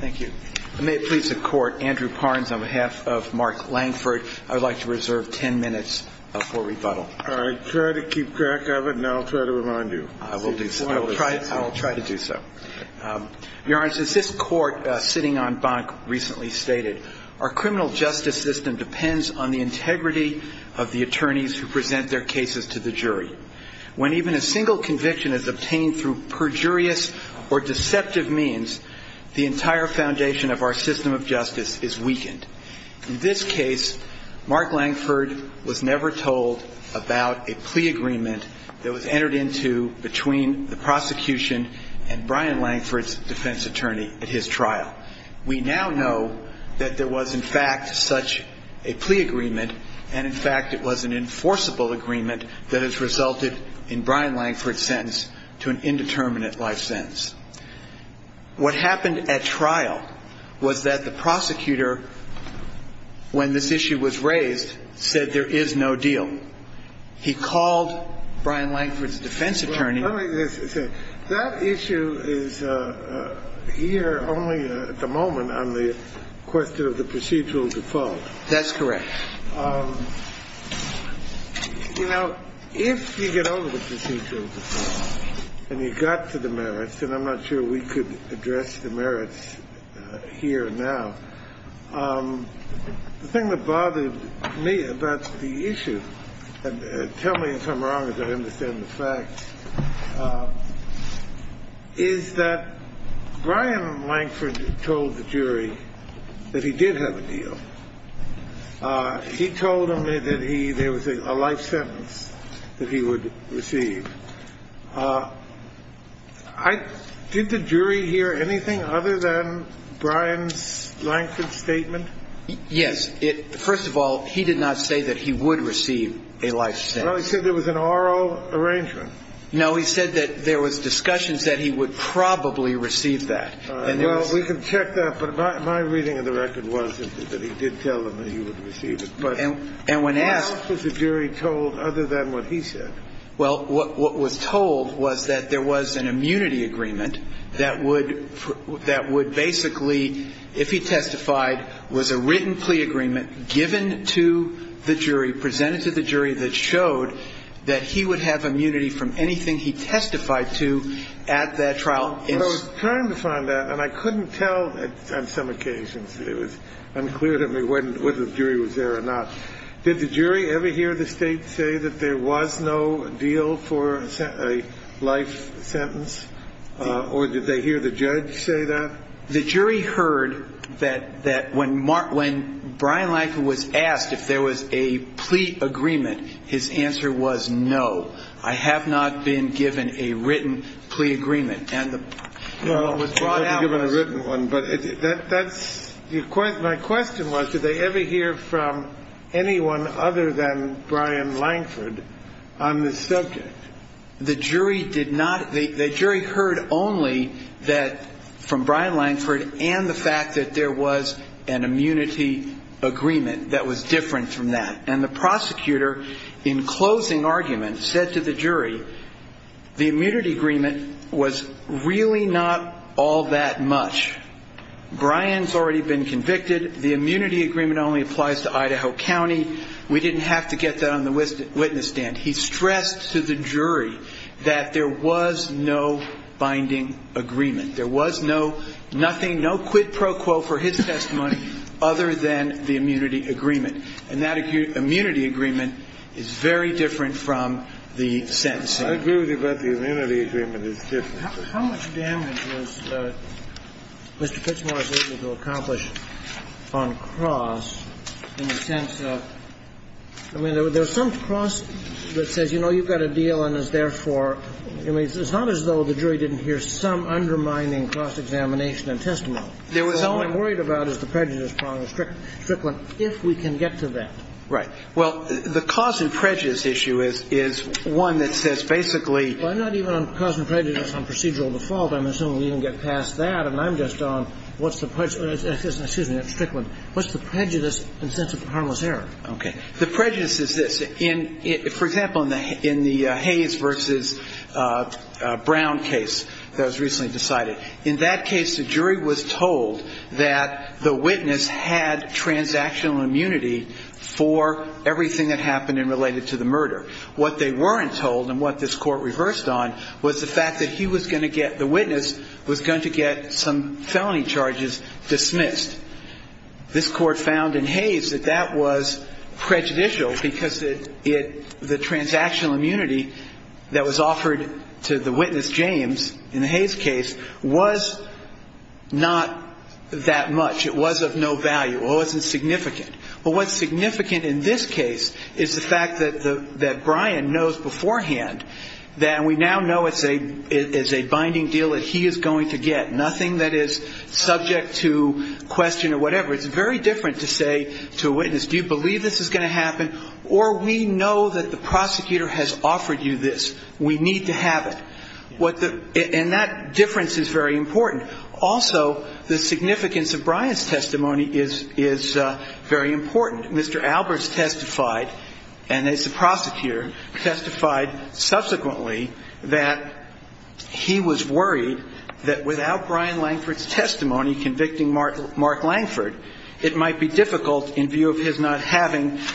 Thank you. May it please the Court, Andrew Parnes on behalf of Mark Lankford, I would like to reserve 10 minutes for rebuttal. I try to keep track of it, and I'll try to remind you. I will try to do so. Your Honor, since this Court, sitting on Bank, recently stated, Our criminal justice system depends on the integrity of the attorneys who present their cases to the jury. When even a single conviction is obtained through perjurious or deceptive means, the entire foundation of our system of justice is weakened. In this case, Mark Lankford was never told about a plea agreement that was entered into between the prosecution and Brian Lankford's defense attorney at his trial. We now know that there was, in fact, such a plea agreement, and, in fact, it was an enforceable agreement that has resulted in Brian Lankford's sentence to an indeterminate life sentence. What happened at trial was that the prosecutor, when this issue was raised, said there is no deal. He called Brian Lankford's defense attorney. Let me just say, that issue is here only at the moment on the question of the procedural default. That's correct. You know, if you get over the procedural default and you got to the merits, and I'm not sure we could address the merits here now, the thing that bothered me about the issue, and tell me if I'm wrong as I understand the facts, is that Brian Lankford told the jury that he did have a deal. He told them that there was a life sentence that he would receive. Did the jury hear anything other than Brian Lankford's statement? Yes. First of all, he did not say that he would receive a life sentence. Well, he said there was an oral arrangement. No, he said that there was discussions that he would probably receive that. Well, we can check that, but my reading of the record was that he did tell them that he would receive it. But how else was the jury told other than what he said? Well, what was told was that there was an immunity agreement that would basically, if he testified, was a written plea agreement given to the jury, presented to the jury that showed that he would have immunity from anything he testified to at that trial. I was trying to find that, and I couldn't tell on some occasions. It was unclear to me whether the jury was there or not. Did the jury ever hear the State say that there was no deal for a life sentence, or did they hear the judge say that? The jury heard that when Brian Lankford was asked if there was a plea agreement, his answer was no. I have not been given a written plea agreement. No, you haven't been given a written one. But my question was, did they ever hear from anyone other than Brian Lankford on this subject? The jury heard only from Brian Lankford and the fact that there was an immunity agreement that was different from that. And the prosecutor, in closing argument, said to the jury, the immunity agreement was really not all that much. Brian's already been convicted. The immunity agreement only applies to Idaho County. We didn't have to get that on the witness stand. He stressed to the jury that there was no binding agreement. There was no nothing, no quid pro quo for his testimony other than the immunity agreement. And that immunity agreement is very different from the sentencing. I agree with you about the immunity agreement. It's different. How much damage was Mr. Pitchmore able to accomplish on cross in the sense of – I mean, there's some cross that says, you know, you've got a deal and is therefore – I mean, it's not as though the jury didn't hear some undermining cross-examination and testimony. There was only – So all I'm worried about is the prejudice problem, the strickland, if we can get to that. Right. Well, the cause and prejudice issue is one that says basically – Well, I'm not even on cause and prejudice on procedural default. I'm assuming we can get past that. And I'm just on what's the – excuse me, that's strickland. What's the prejudice in the sense of harmless error? Okay. The prejudice is this. For example, in the Hayes v. Brown case that was recently decided, in that case the jury was told that the witness had transactional immunity for everything that happened in related to the murder. What they weren't told and what this Court reversed on was the fact that he was going to get – the witness was going to get some felony charges dismissed. This Court found in Hayes that that was prejudicial because it – the transactional immunity that was offered to the witness, James, in the Hayes case, was not that much. It was of no value. It wasn't significant. Well, what's significant in this case is the fact that Brian knows beforehand that we now know it's a binding deal that he is going to get. Nothing that is subject to question or whatever. It's very different to say to a witness, do you believe this is going to happen or we know that the prosecutor has offered you this. We need to have it. And that difference is very important. Also, the significance of Brian's testimony is very important. Mr. Alberts testified, and as the prosecutor, testified subsequently that he was worried that without Brian Langford's testimony convicting Mark Langford, it might be difficult in view of his not having –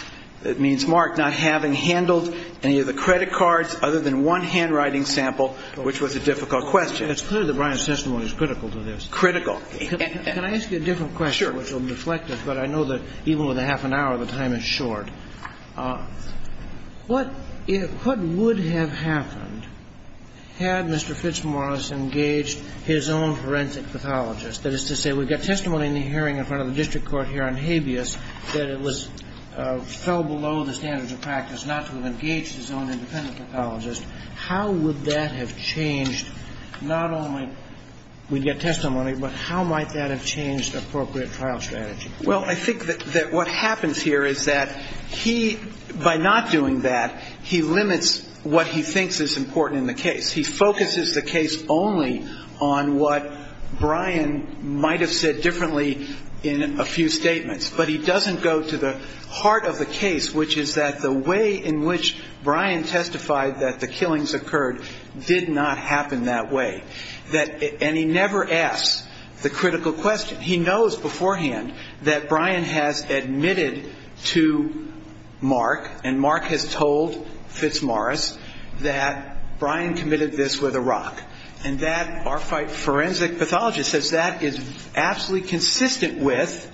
that means Mark not having handled any of the credit cards other than one handwriting sample, which was a difficult question. It's clear that Brian's testimony is critical to this. Critical. Can I ask you a different question? Sure. Which will deflect it, but I know that even with a half an hour, the time is short. What would have happened had Mr. Fitzmaurice engaged his own forensic pathologist? That is to say, we've got testimony in the hearing in front of the district court here on habeas that it fell below the standards of practice, not to have engaged his own independent pathologist. How would that have changed not only we'd get testimony, but how might that have changed appropriate trial strategy? Well, I think that what happens here is that he, by not doing that, he limits what he thinks is important in the case. He focuses the case only on what Brian might have said differently in a few statements. But he doesn't go to the heart of the case, which is that the way in which Brian testified that the killings occurred did not happen that way. And he never asks the critical question. He knows beforehand that Brian has admitted to Mark and Mark has told Fitzmaurice that Brian committed this with a rock. And that our forensic pathologist says that is absolutely consistent with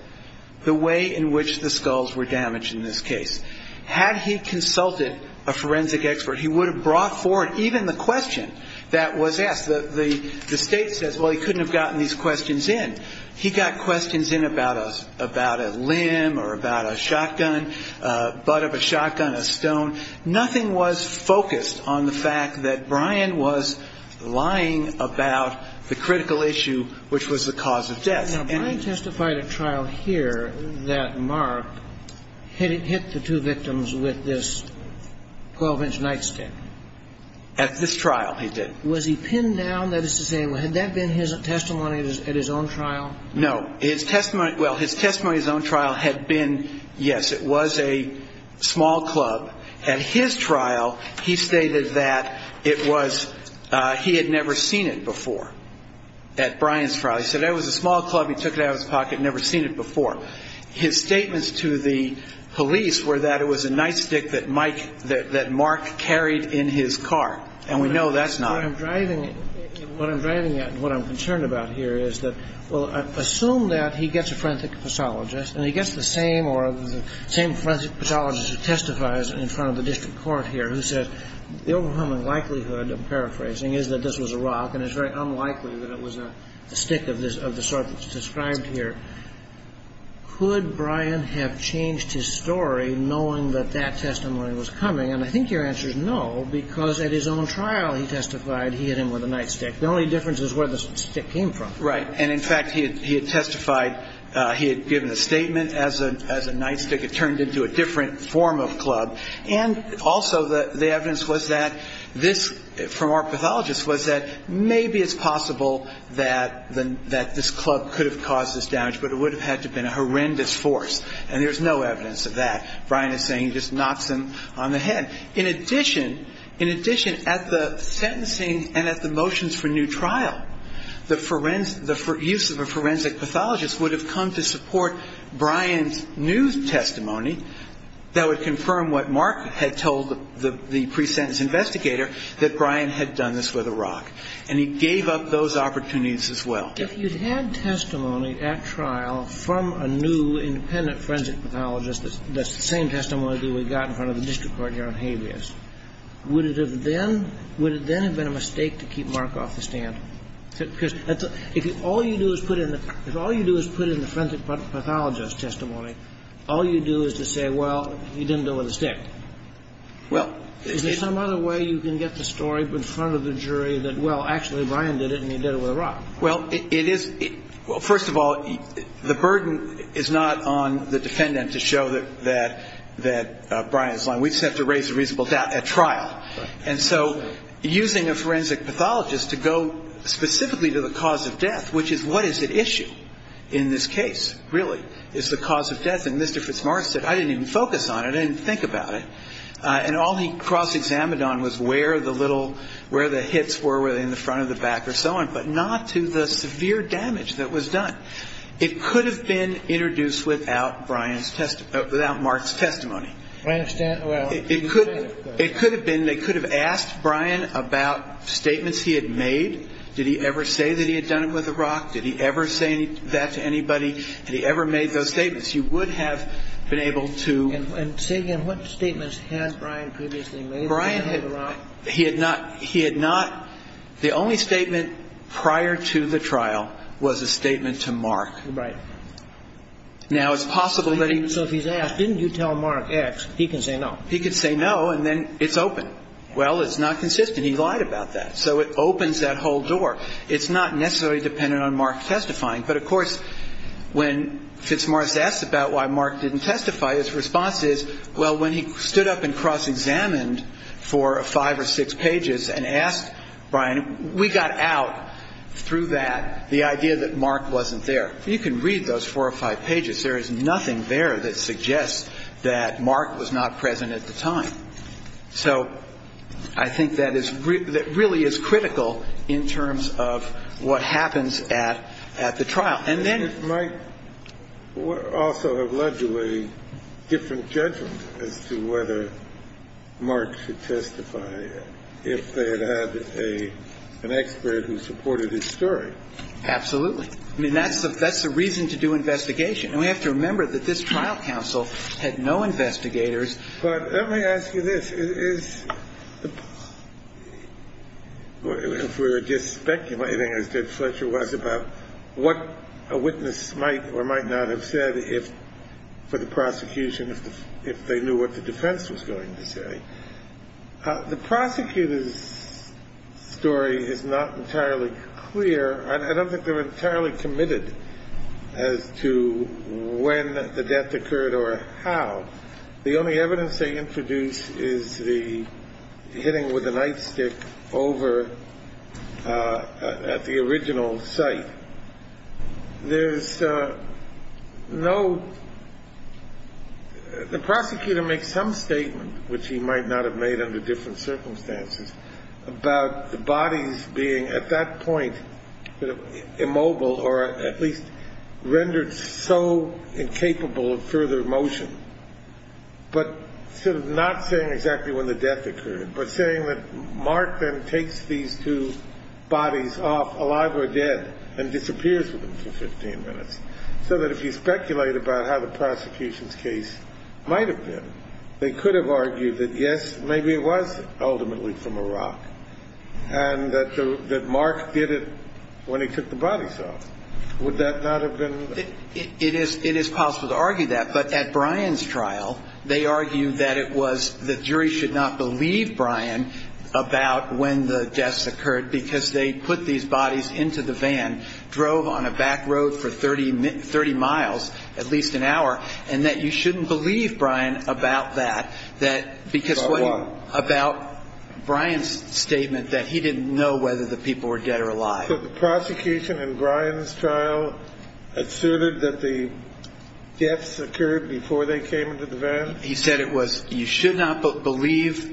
the way in which the skulls were damaged in this case. Had he consulted a forensic expert, he would have brought forward even the question that was asked. The state says, well, he couldn't have gotten these questions in. He got questions in about a limb or about a shotgun, butt of a shotgun, a stone. Nothing was focused on the fact that Brian was lying about the critical issue, which was the cause of death. Now, Brian testified at trial here that Mark hit the two victims with this 12-inch nightstick. At this trial he did. Was he pinned down? That is to say, had that been his testimony at his own trial? No. Well, his testimony at his own trial had been, yes, it was a small club. At his trial, he stated that it was he had never seen it before, at Brian's trial. He said it was a small club. He took it out of his pocket and never seen it before. His statements to the police were that it was a nightstick that Mike, that Mark carried in his car. And we know that's not it. What I'm driving at and what I'm concerned about here is that, well, assume that he gets a forensic pathologist and he gets the same or the same forensic pathologist who testifies in front of the district court here who says the overwhelming likelihood, I'm paraphrasing, is that this was a rock and it's very unlikely that it was a stick of the sort that's described here. Could Brian have changed his story knowing that that testimony was coming? And I think your answer is no, because at his own trial he testified he hit him with a nightstick. The only difference is where the stick came from. Right. And, in fact, he had testified, he had given a statement as a nightstick. It turned into a different form of club. And also the evidence was that this, from our pathologist, was that maybe it's possible that this club could have caused this damage, but it would have had to have been a horrendous force. And there's no evidence of that. Brian is saying he just knocks him on the head. In addition, in addition, at the sentencing and at the motions for new trial, the use of a forensic pathologist would have come to support Brian's new testimony that would confirm what Mark had told the pre-sentence investigator, that Brian had done this with a rock. And he gave up those opportunities as well. If you had testimony at trial from a new independent forensic pathologist, that's the same testimony that we got in front of the district court here on habeas, would it have then been a mistake to keep Mark off the stand? Because if all you do is put in the forensic pathologist's testimony, all you do is to say, well, he didn't do it with a stick. Is there some other way you can get the story in front of the jury that, well, actually Brian did it and he did it with a rock? Well, first of all, the burden is not on the defendant to show that Brian is lying. We just have to raise a reasonable doubt at trial. And so using a forensic pathologist to go specifically to the cause of death, which is what is at issue in this case, really, is the cause of death. And Mr. FitzMartin said, I didn't even focus on it. I didn't think about it. And all he cross-examined on was where the little, where the hits were, whether in the front or the back or so on, but not to the severe damage that was done. It could have been introduced without Brian's testimony, without Mark's testimony. I understand. It could have been. They could have asked Brian about statements he had made. Did he ever say that he had done it with a rock? Did he ever say that to anybody? Had he ever made those statements? You would have been able to. And say again, what statements has Brian previously made? Brian had not. He had not. The only statement prior to the trial was a statement to Mark. Right. Now, it's possible that he. So if he's asked, didn't you tell Mark X, he can say no. He can say no, and then it's open. Well, it's not consistent. He lied about that. So it opens that whole door. It's not necessarily dependent on Mark testifying. But, of course, when FitzMartin asks about why Mark didn't testify, his response is, well, when he stood up and cross-examined for five or six pages and asked Brian, we got out through that, the idea that Mark wasn't there. You can read those four or five pages. There is nothing there that suggests that Mark was not present at the time. So I think that is really as critical in terms of what happens at the trial. And then it might also have led to a different judgment as to whether Mark should testify if they had had an expert who supported his story. Absolutely. I mean, that's the reason to do investigation. And we have to remember that this trial counsel had no investigators. But let me ask you this. If we were just speculating as did Fletcher was about what a witness might or might not have said for the prosecution if they knew what the defense was going to say. The prosecutor's story is not entirely clear. I don't think they're entirely committed as to when the death occurred or how. The only evidence they introduce is the hitting with a knife stick over at the original site. There's no the prosecutor makes some statement, which he might not have made under different circumstances, about the bodies being at that point immobile or at least rendered so incapable of further motion. But sort of not saying exactly when the death occurred, but saying that Mark then takes these two bodies off, alive or dead, and disappears with them for 15 minutes. So that if you speculate about how the prosecution's case might have been, they could have argued that, yes, maybe it was ultimately from a rock, and that Mark did it when he took the bodies off. Would that not have been? It is possible to argue that. But at Brian's trial, they argued that it was the jury should not believe Brian about when the deaths occurred because they put these bodies into the van, drove on a back road for 30 miles, at least an hour, and that you shouldn't believe Brian about that. About what? About Brian's statement that he didn't know whether the people were dead or alive. But the prosecution in Brian's trial asserted that the deaths occurred before they came into the van? He said it was you should not believe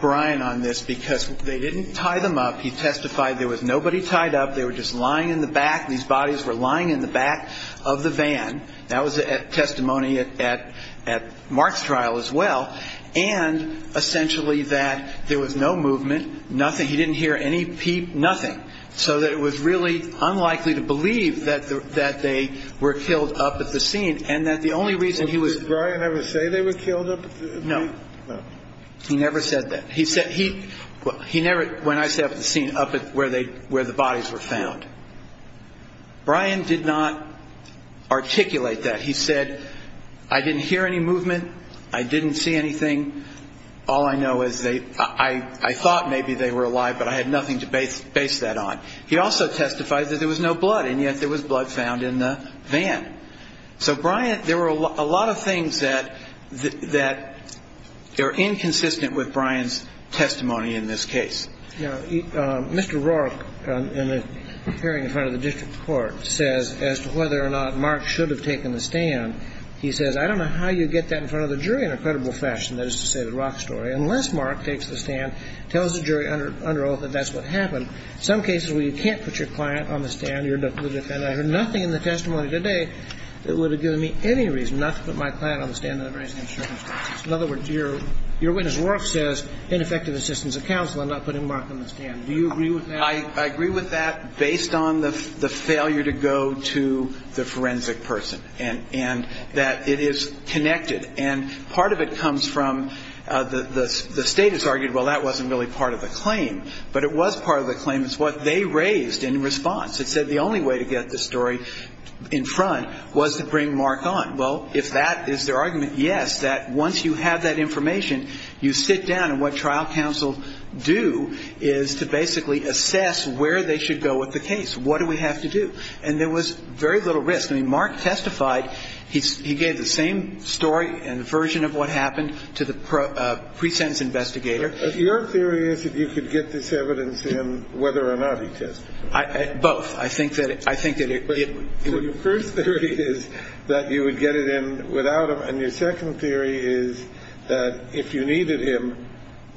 Brian on this because they didn't tie them up. He testified there was nobody tied up. They were just lying in the back. These bodies were lying in the back of the van. That was testimony at Mark's trial as well. And essentially that there was no movement, nothing. He didn't hear any peep, nothing. So that it was really unlikely to believe that they were killed up at the scene and that the only reason he was ---- Did Brian ever say they were killed up at the scene? No. He never said that. When I say up at the scene, up at where the bodies were found. Brian did not articulate that. He said I didn't hear any movement. I didn't see anything. All I know is I thought maybe they were alive, but I had nothing to base that on. He also testified that there was no blood, and yet there was blood found in the van. So Brian, there were a lot of things that are inconsistent with Brian's testimony in this case. Mr. Rourke, in a hearing in front of the district court, says as to whether or not Mark should have taken the stand, he says I don't know how you get that in front of the jury in a credible fashion, that is to say the Rock story, unless Mark takes the stand, tells the jury under oath that that's what happened. Some cases where you can't put your client on the stand, your defendant, I heard nothing in the testimony today that would have given me any reason not to put my client on the stand under the very same circumstances. In other words, your witness Rourke says ineffective assistance of counsel and not putting Mark on the stand. Do you agree with that? I agree with that based on the failure to go to the forensic person and that it is connected. And part of it comes from the state has argued, well, that wasn't really part of the claim, but it was part of the claim. It's what they raised in response. It said the only way to get this story in front was to bring Mark on. Well, if that is their argument, yes, that once you have that information, you sit down and what trial counsel do is to basically assess where they should go with the case. What do we have to do? And there was very little risk. I mean, Mark testified. He gave the same story and version of what happened to the pre-sentence investigator. Your theory is that you could get this evidence in whether or not he testified. Both. I think that it would. Your first theory is that you would get it in without him. And your second theory is that if you needed him,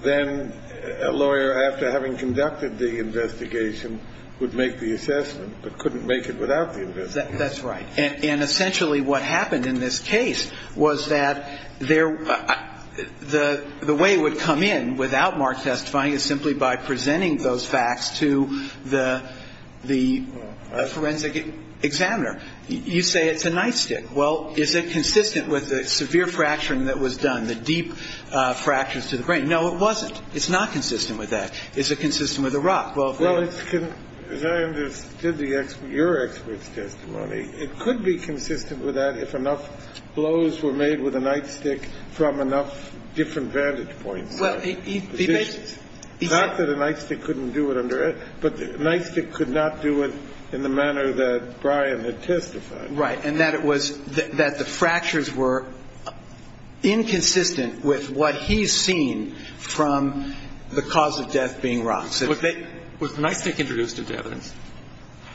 then a lawyer after having conducted the investigation would make the assessment, but couldn't make it without the investigation. That's right. And essentially what happened in this case was that the way it would come in without Mark testifying is simply by presenting those facts to the forensic examiner. You say it's a nightstick. Well, is it consistent with the severe fracturing that was done, the deep fractures to the brain? No, it wasn't. It's not consistent with that. Is it consistent with the rock? Well, as I understood your expert's testimony, it could be consistent with that if enough blows were made with a nightstick from enough different vantage points. Not that a nightstick couldn't do it under it, but a nightstick could not do it in the manner that Brian had testified. Right. And that it was that the fractures were inconsistent with what he's seen from the cause of death being rocks. Was the nightstick introduced into evidence?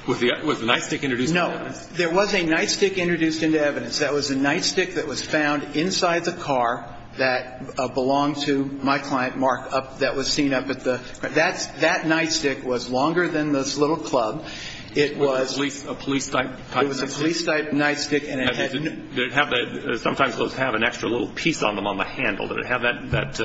Was the nightstick introduced into evidence? No. There was a nightstick introduced into evidence. That was a nightstick that was found inside the car that belonged to my client, Mark, that was seen up at the. That nightstick was longer than this little club. It was a police-type nightstick? It was a police-type nightstick. Sometimes those have an extra little piece on them on the handle. Did it have that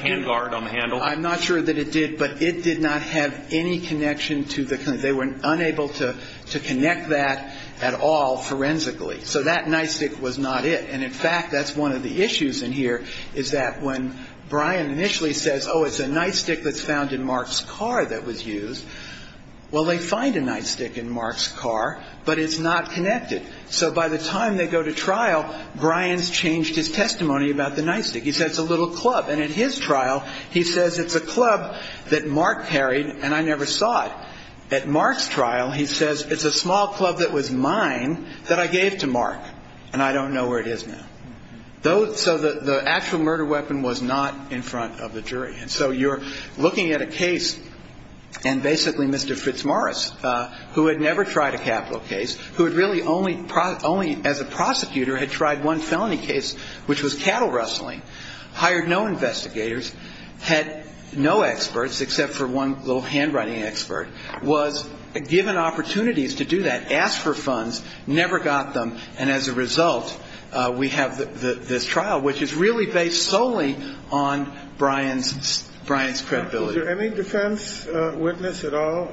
hand guard on the handle? I'm not sure that it did, but it did not have any connection to the. They were unable to connect that at all forensically. So that nightstick was not it. And, in fact, that's one of the issues in here is that when Brian initially says, oh, it's a nightstick that's found in Mark's car that was used, well, they find a nightstick in Mark's car, but it's not connected. So by the time they go to trial, Brian's changed his testimony about the nightstick. He says it's a little club. And at his trial, he says it's a club that Mark carried and I never saw it. At Mark's trial, he says it's a small club that was mine that I gave to Mark and I don't know where it is now. So the actual murder weapon was not in front of the jury. And so you're looking at a case, and basically Mr. Fitzmaurice, who had never tried a capital case, who had really only as a prosecutor had tried one felony case, which was cattle rustling, hired no investigators, had no experts except for one little handwriting expert, was given opportunities to do that, asked for funds, never got them, and as a result, we have this trial, which is really based solely on Brian's credibility. Was there any defense witness at all?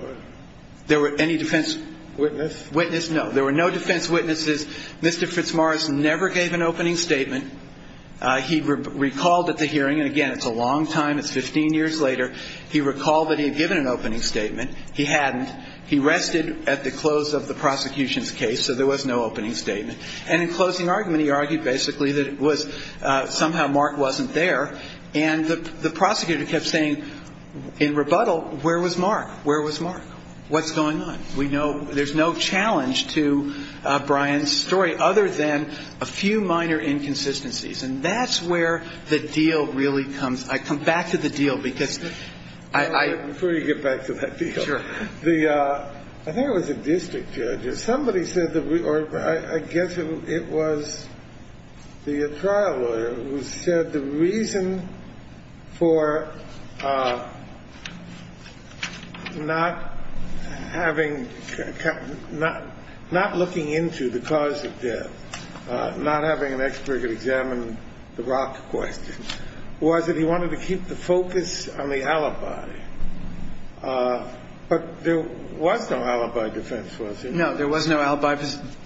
There were no defense witnesses. Mr. Fitzmaurice never gave an opening statement. He recalled at the hearing, and again, it's a long time, it's 15 years later, he recalled that he had given an opening statement. He hadn't. He rested at the close of the prosecution's case, so there was no opening statement. And in closing argument, he argued basically that it was somehow Mark wasn't there, and the prosecutor kept saying in rebuttal, where was Mark? Where was Mark? What's going on? We know there's no challenge to Brian's story other than a few minor inconsistencies, and that's where the deal really comes. I come back to the deal because I – Before you get back to that deal. Sure. I think it was a district judge. Somebody said that we – or I guess it was the trial lawyer who said the reason for not having – not looking into the cause of death, not having an expert examine the rock question, was that he wanted to keep the focus on the alibi. But there was no alibi defense, was there? No, there was no alibi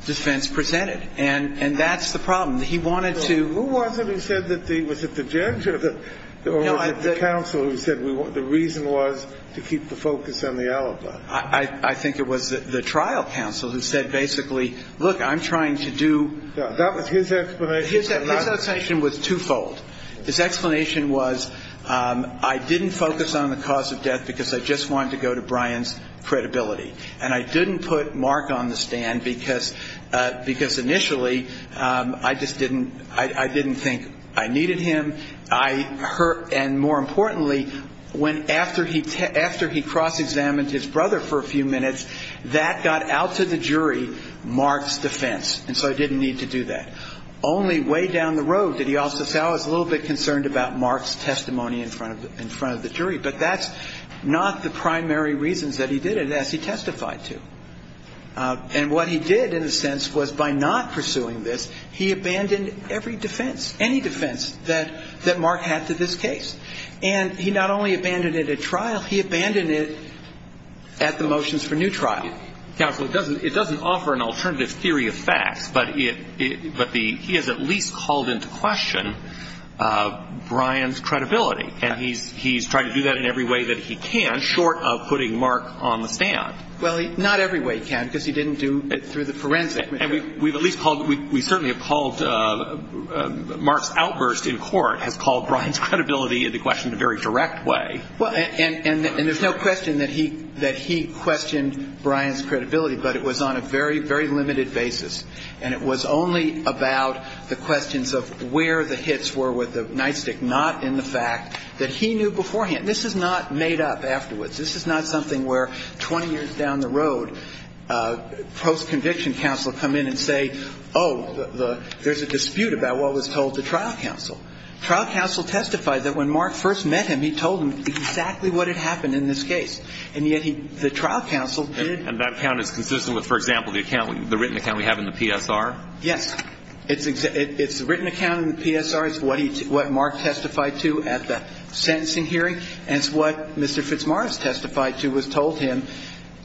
defense presented, and that's the problem. He wanted to – Who was it who said that the – was it the judge or the counsel who said the reason was to keep the focus on the alibi? I think it was the trial counsel who said basically, look, I'm trying to do – That was his explanation. His explanation was twofold. His explanation was I didn't focus on the cause of death because I just wanted to go to Brian's credibility, and I didn't put Mark on the stand because initially I just didn't – I didn't think I needed him. I – and more importantly, after he cross-examined his brother for a few minutes, that got out to the jury Mark's defense, and so I didn't need to do that. Only way down the road did he also say I was a little bit concerned about Mark's testimony in front of the jury. But that's not the primary reasons that he did it, as he testified to. And what he did, in a sense, was by not pursuing this, he abandoned every defense, any defense that Mark had to this case. And he not only abandoned it at trial, he abandoned it at the motions for new trial. Counsel, it doesn't offer an alternative theory of facts, but he has at least called into question Brian's credibility. And he's tried to do that in every way that he can, short of putting Mark on the stand. Well, not every way he can because he didn't do it through the forensic. And we've at least called – we certainly have called Mark's outburst in court, has called Brian's credibility into question in a very direct way. Well, and there's no question that he questioned Brian's credibility, but it was on a very, very limited basis. And it was only about the questions of where the hits were with the nightstick, not in the fact that he knew beforehand. This is not made up afterwards. This is not something where 20 years down the road, post-conviction counsel come in and say, oh, there's a dispute about what was told to trial counsel. Trial counsel testified that when Mark first met him, he told him exactly what had happened in this case. And yet the trial counsel did – And that account is consistent with, for example, the written account we have in the PSR? Yes. It's the written account in the PSR. It's what Mark testified to at the sentencing hearing, and it's what Mr. Fitzmaurice testified to was told to him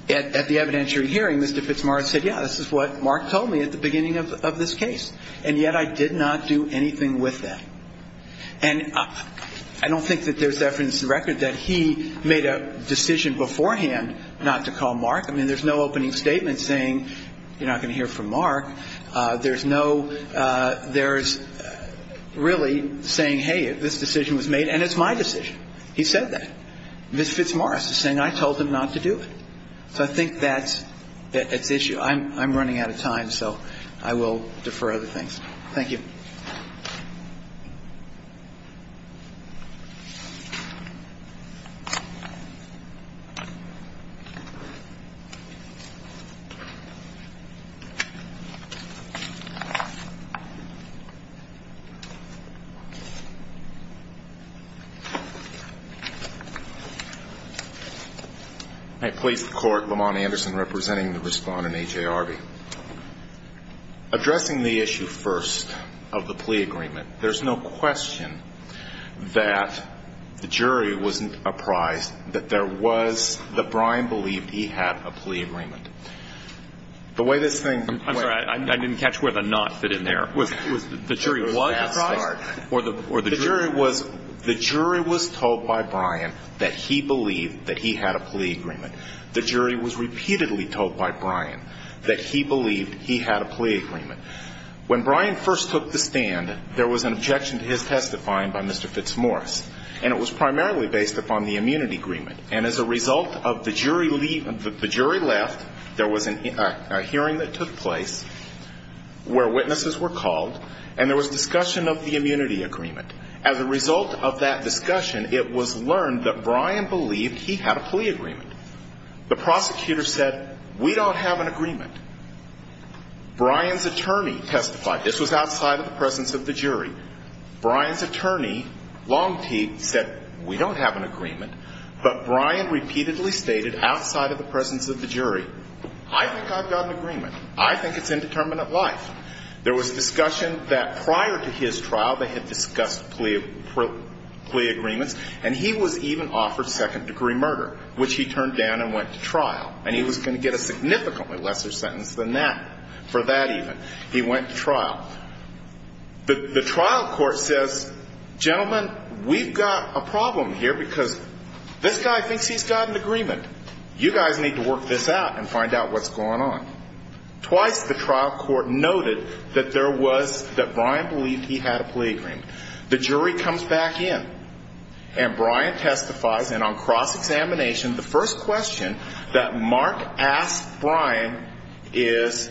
at the evidentiary hearing. Mr. Fitzmaurice said, yeah, this is what Mark told me at the beginning of this case. And yet I did not do anything with that. And I don't think that there's evidence in the record that he made a decision beforehand not to call Mark. I mean, there's no opening statement saying you're not going to hear from Mark. There's no – there's really saying, hey, this decision was made, and it's my decision. He said that. Ms. Fitzmaurice is saying I told him not to do it. So I think that's – that's issue. I'm running out of time, so I will defer other things. Thank you. May I please have the Court, Lamont Anderson, representing the respondent, A.J. Arby, addressing the issue first of the plea agreement. There's no question that the jury wasn't apprised that there was – that Brian believed he had a plea agreement. The way this thing – I'm sorry. I didn't catch where the not fit in there. The jury was – The jury was told by Brian that he believed that he had a plea agreement. The jury was repeatedly told by Brian that he believed he had a plea agreement. When Brian first took the stand, there was an objection to his testifying by Mr. Fitzmaurice, and it was primarily based upon the immunity agreement. And as a result of the jury – the jury left, there was a hearing that took place where witnesses were called, and there was discussion of the immunity agreement. As a result of that discussion, it was learned that Brian believed he had a plea agreement. The prosecutor said, we don't have an agreement. Brian's attorney testified. This was outside of the presence of the jury. Brian's attorney, Longtee, said, we don't have an agreement. But Brian repeatedly stated, outside of the presence of the jury, I think I've got an agreement. I think it's indeterminate life. There was discussion that prior to his trial, they had discussed plea agreements, and he was even offered second-degree murder, which he turned down and went to trial. And he was going to get a significantly lesser sentence than that for that even. He went to trial. The trial court says, gentlemen, we've got a problem here because this guy thinks he's got an agreement. You guys need to work this out and find out what's going on. Twice the trial court noted that there was – that Brian believed he had a plea agreement. The jury comes back in, and Brian testifies, and on cross-examination, the first question that Mark asked Brian is,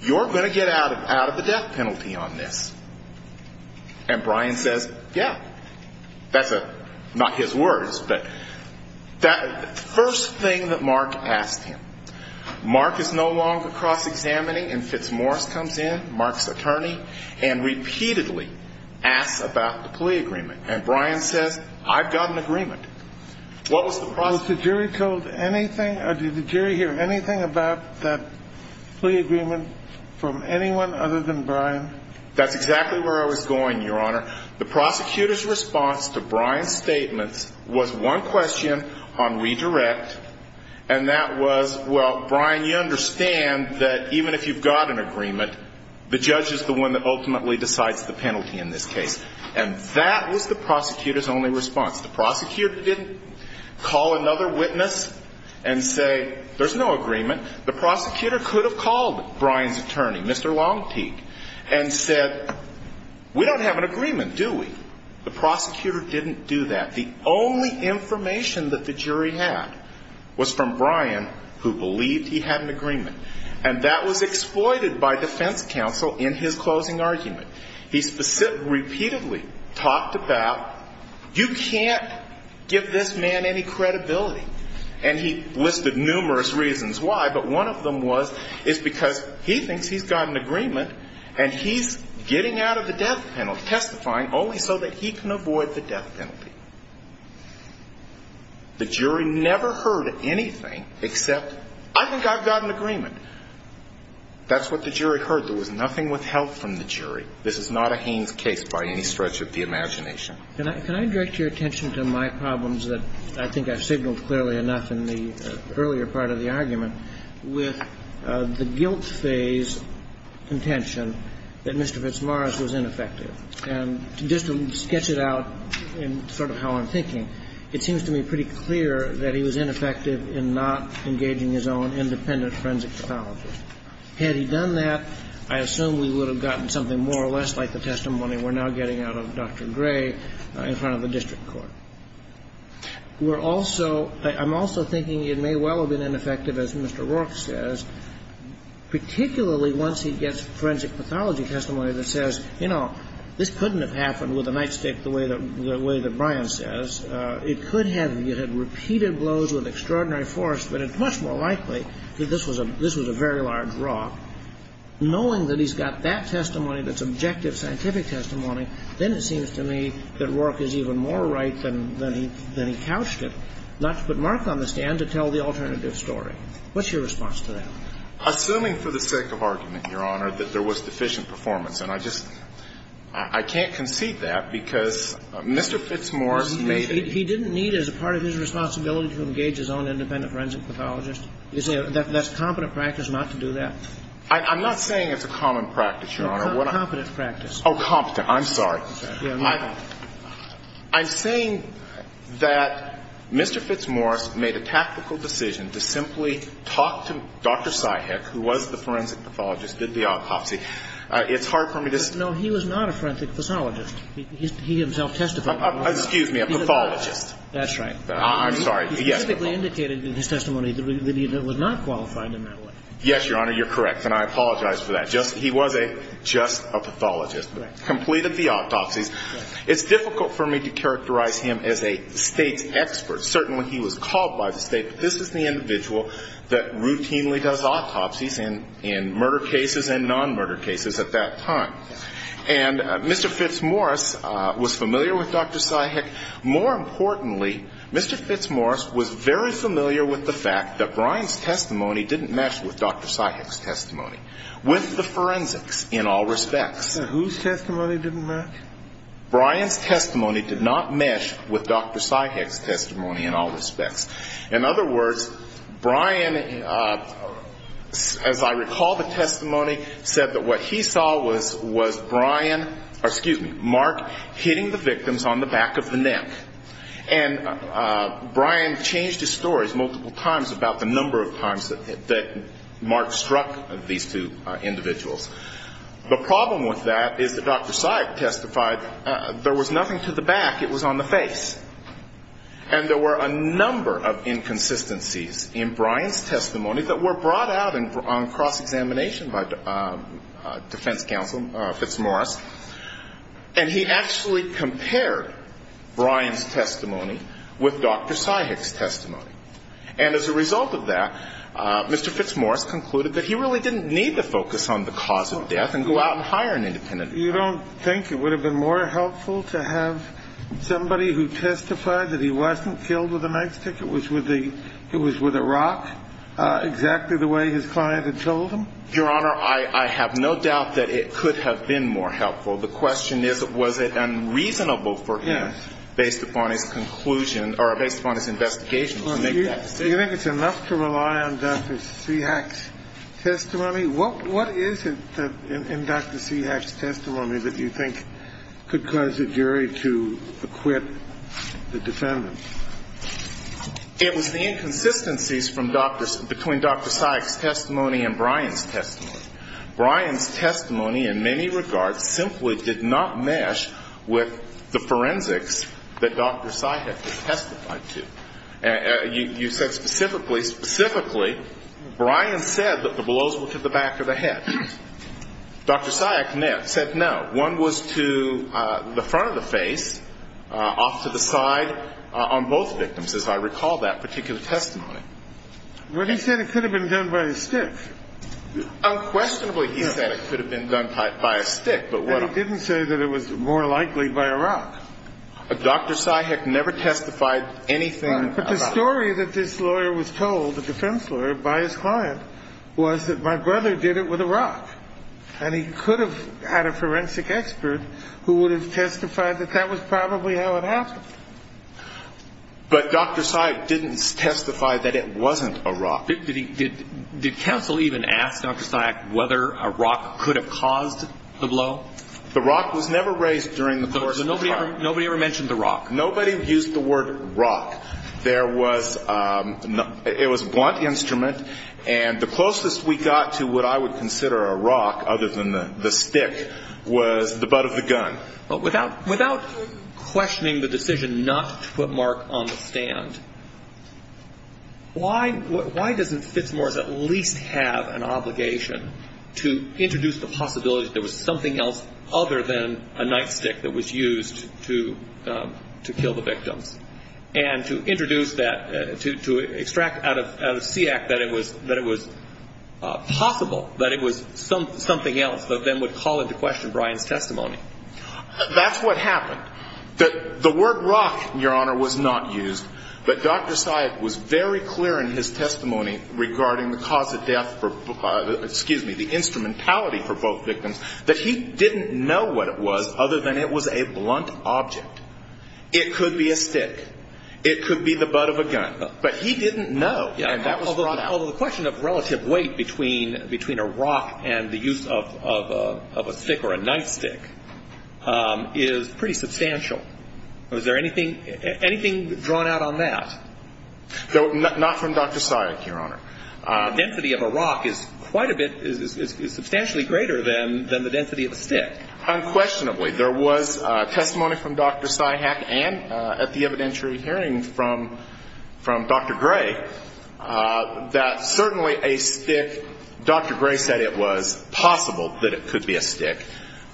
you're going to get out of the death penalty on this. And Brian says, yeah. That's a – not his words, but that first thing that Mark asked him. Mark is no longer cross-examining, and Fitzmaurice comes in, Mark's attorney, and repeatedly asks about the plea agreement. And Brian says, I've got an agreement. What was the – Was the jury told anything – did the jury hear anything about that plea agreement from anyone other than Brian? That's exactly where I was going, Your Honor. The prosecutor's response to Brian's statements was one question on redirect, and that was, well, Brian, you understand that even if you've got an agreement, the judge is the one that ultimately decides the penalty in this case. And that was the prosecutor's only response. The prosecutor didn't call another witness and say, there's no agreement. The prosecutor could have called Brian's attorney, Mr. Longteek, and said, we don't have an agreement, do we? The prosecutor didn't do that. The only information that the jury had was from Brian, who believed he had an agreement. And that was exploited by defense counsel in his closing argument. He repeatedly talked about, you can't give this man any credibility. And he listed numerous reasons why, but one of them was it's because he thinks he's got an agreement, and he's getting out of the death penalty, testifying only so that he can avoid the death penalty. The jury never heard anything except, I think I've got an agreement. That's what the jury heard. There was nothing withheld from the jury. This is not a Haynes case by any stretch of the imagination. Can I direct your attention to my problems that I think I've signaled clearly enough in the earlier part of the argument, with the guilt phase contention that Mr. Fitzmaurice was ineffective. And just to sketch it out in sort of how I'm thinking, it seems to me pretty clear that he was ineffective in not engaging his own independent forensic pathologist. Had he done that, I assume we would have gotten something more or less like the testimony we're now getting out of Dr. Gray in front of the district court. We're also – I'm also thinking it may well have been ineffective, as Mr. Rourke says, particularly once he gets forensic pathology testimony that says, you know, this couldn't have happened with a nightstick the way that Brian says. It could have. It had repeated blows with extraordinary force, but it's much more likely that this was a very large rock. Knowing that he's got that testimony that's objective scientific testimony, then it seems to me that Rourke is even more right than he couched it, not to put Mark on the stand to tell the alternative story. What's your response to that? Assuming for the sake of argument, Your Honor, that there was deficient performance. And I just – I can't concede that because Mr. Fitzmaurice made it – He didn't need as a part of his responsibility to engage his own independent forensic pathologist? That's competent practice not to do that? I'm not saying it's a common practice, Your Honor. Competent practice. Oh, competent. I'm sorry. I'm saying that Mr. Fitzmaurice made a tactical decision to simply talk to Dr. Syhick, who was the forensic pathologist, did the autopsy. It's hard for me to say. No, he was not a forensic pathologist. He himself testified. Excuse me, a pathologist. That's right. I'm sorry. He specifically indicated in his testimony that he was not qualified in that way. Yes, Your Honor, you're correct. And I apologize for that. Just – he was a – just a pathologist. Right. Completed the autopsies. It's difficult for me to characterize him as a State's expert. Certainly, he was called by the State. But this is the individual that routinely does autopsies in murder cases and non-murder cases at that time. And Mr. Fitzmaurice was familiar with Dr. Syhick. More importantly, Mr. Fitzmaurice was very familiar with the fact that Brian's testimony didn't match with Dr. Syhick's testimony, with the forensics in all respects. Whose testimony didn't match? Brian's testimony did not mesh with Dr. Syhick's testimony in all respects. In other words, Brian, as I recall the testimony, said that what he saw was Brian – or, excuse me, Mark hitting the victims on the back of the neck. And Brian changed his stories multiple times about the number of times that Mark struck these two individuals. The problem with that is that Dr. Syhick testified there was nothing to the back. It was on the face. And there were a number of inconsistencies in Brian's testimony that were brought out on cross-examination by defense counsel, Fitzmaurice, and he actually compared Brian's testimony with Dr. Syhick's testimony. And as a result of that, Mr. Fitzmaurice concluded that he really didn't need to focus on the cause of death and go out and hire an independent attorney. You don't think it would have been more helpful to have somebody who testified that he wasn't killed with a knife stick, it was with a rock, exactly the way his client had told him? Your Honor, I have no doubt that it could have been more helpful. The question is, was it unreasonable for him, based upon his conclusion or based upon his investigation, to make that statement? Do you think it's enough to rely on Dr. Syhick's testimony? What is it in Dr. Syhick's testimony that you think could cause a jury to acquit the defendant? It was the inconsistencies from Dr. – between Dr. Syhick's testimony and Brian's testimony. Brian's testimony in many regards simply did not mesh with the forensics that Dr. Syhick testified to. You said specifically, specifically, Brian said that the blows were to the back of the head. Dr. Syhick said no. One was to the front of the face, off to the side on both victims, as I recall that particular testimony. Well, he said it could have been done by a stick. Unquestionably, he said it could have been done by a stick, but what – But he didn't say that it was more likely by a rock. Dr. Syhick never testified anything about – But the story that this lawyer was told, the defense lawyer, by his client, was that my brother did it with a rock. And he could have had a forensic expert who would have testified that that was probably how it happened. But Dr. Syhick didn't testify that it wasn't a rock. Did counsel even ask Dr. Syhick whether a rock could have caused the blow? The rock was never raised during the course of the trial. Nobody ever mentioned the rock. Nobody used the word rock. There was – it was a blunt instrument. And the closest we got to what I would consider a rock, other than the stick, was the butt of the gun. Without questioning the decision not to put Mark on the stand, why doesn't Fitzmores at least have an obligation to introduce the possibility that there was something else other than a nightstick that was used to kill the victims? And to introduce that – to extract out of SEAC that it was possible that it was something else that then would call into question Brian's testimony. That's what happened. The word rock, Your Honor, was not used. But Dr. Syhick was very clear in his testimony regarding the cause of death for – excuse me, the instrumentality for both victims, that he didn't know what it was other than it was a blunt object. It could be a stick. It could be the butt of a gun. But he didn't know, and that was brought out. Although the question of relative weight between a rock and the use of a stick or a nightstick is pretty substantial. Is there anything drawn out on that? Not from Dr. Syhick, Your Honor. The density of a rock is quite a bit – is substantially greater than the density of a stick. Unquestionably. There was testimony from Dr. Syhick and at the evidentiary hearing from Dr. Gray that certainly a stick – Dr. Gray said it was possible that it could be a stick.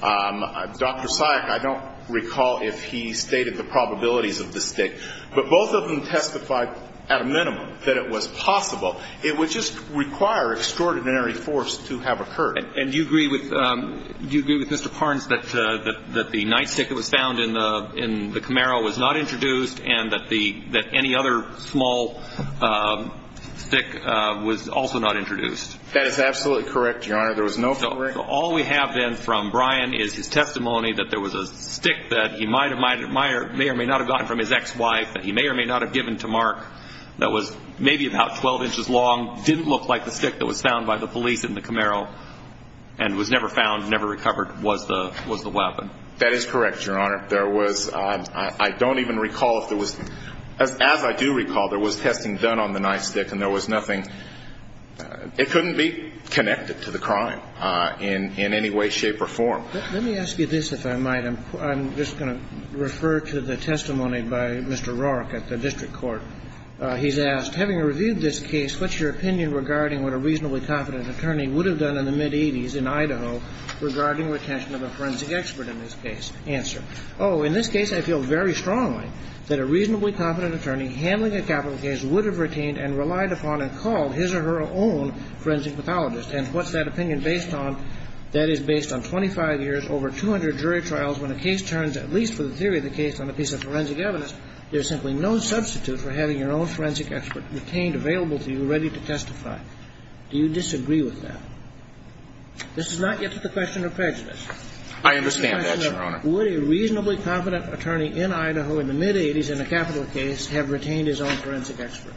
Dr. Syhick, I don't recall if he stated the probabilities of the stick, but both of them testified at a minimum that it was possible. It would just require extraordinary force to have occurred. And do you agree with Mr. Parnes that the nightstick that was found in the Camaro was not introduced and that any other small stick was also not introduced? That is absolutely correct, Your Honor. There was no – So all we have then from Brian is his testimony that there was a stick that he may or may not have gotten from his ex-wife, that he may or may not have given to Mark, that was maybe about 12 inches long, didn't look like the stick that was found by the police in the Camaro, and was never found, never recovered, was the weapon. That is correct, Your Honor. There was – I don't even recall if there was – as I do recall, there was testing done on the nightstick and there was nothing – it couldn't be connected to the crime in any way, shape or form. Let me ask you this, if I might. I'm just going to refer to the testimony by Mr. Roark at the district court. He's asked, Having reviewed this case, what's your opinion regarding what a reasonably confident attorney would have done in the mid-'80s in Idaho regarding retention of a forensic expert in this case? Answer. Oh, in this case, I feel very strongly that a reasonably confident attorney handling a capital case would have retained and relied upon and called his or her own forensic pathologist. Hence, what's that opinion based on? That is based on 25 years, over 200 jury trials. When a case turns, at least for the theory of the case, on a piece of forensic evidence, there's simply no substitute for having your own forensic expert retained available to you, ready to testify. Do you disagree with that? This is not yet to the question of prejudice. I understand that, Your Honor. Would a reasonably confident attorney in Idaho in the mid-'80s in a capital case have retained his own forensic expert?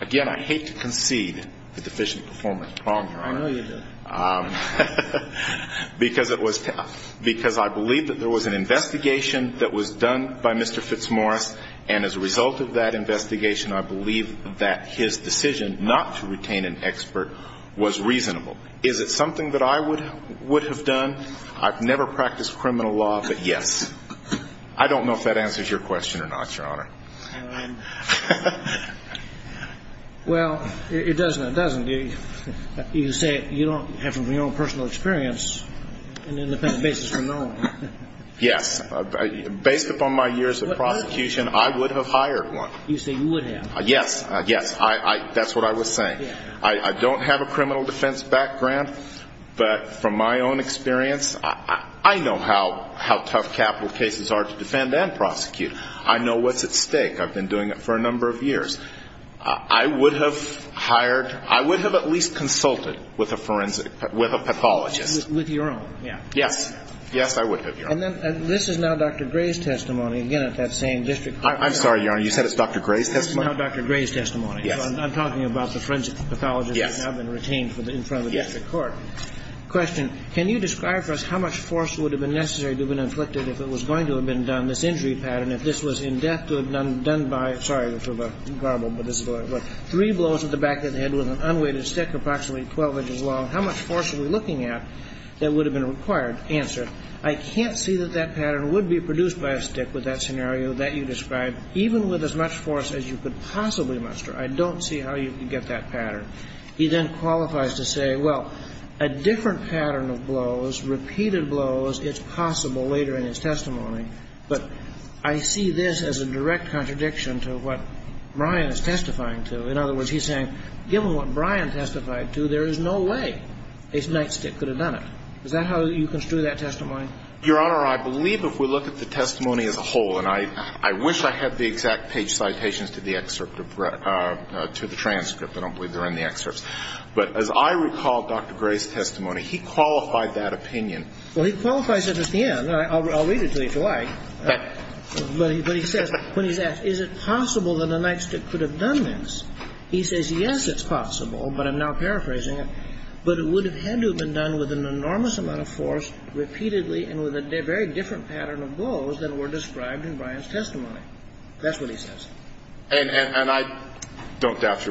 Again, I hate to concede the deficient performance problem, Your Honor. I know you do. Because I believe that there was an investigation that was done by Mr. Fitzmaurice, and as a result of that investigation, I believe that his decision not to retain an expert was reasonable. Is it something that I would have done? I've never practiced criminal law, but yes. I don't know if that answers your question or not, Your Honor. Well, it doesn't. It doesn't. You say you don't have from your own personal experience an independent basis for knowing. Yes. Based upon my years of prosecution, I would have hired one. You say you would have. Yes. Yes. That's what I was saying. I don't have a criminal defense background, but from my own experience, I know how tough capital cases are to defend and prosecute. I know what's at stake. I've been doing it for a number of years. I would have hired, I would have at least consulted with a forensic, with a pathologist. With your own. Yes. Yes, I would have, Your Honor. And this is now Dr. Gray's testimony, again, at that same district court. I'm sorry, Your Honor. You said it's Dr. Gray's testimony? This is now Dr. Gray's testimony. Yes. I'm talking about the forensic pathologist that's now been retained in front of the district court. Yes. Question. Can you describe for us how much force would have been necessary to have been inflicted if it was going to have been done, this injury pattern, if this was in depth to have been done by, sorry for the garble, but this is the way it was, three blows to the back of the head with an unweighted stick approximately 12 inches long? How much force are we looking at that would have been required? Answer. I can't see that that pattern would be produced by a stick with that scenario that you described, even with as much force as you could possibly muster. I don't see how you could get that pattern. He then qualifies to say, well, a different pattern of blows, repeated blows, it's possible later in his testimony, but I see this as a direct contradiction to what Brian is testifying to. In other words, he's saying, given what Brian testified to, there is no way a nightstick could have done it. Is that how you construe that testimony? Your Honor, I believe if we look at the testimony as a whole, and I wish I had the exact page citations to the excerpt to the transcript. I don't believe they're in the excerpts. But as I recall Dr. Gray's testimony, he qualified that opinion. Well, he qualifies at the end. I'll read it to you if you like. But he says, when he's asked, is it possible that a nightstick could have done this, he says, yes, it's possible, but I'm now paraphrasing it, but it would have had to have been done with an enormous amount of force repeatedly and with a very different pattern of blows than were described in Brian's testimony. That's what he says. And I don't doubt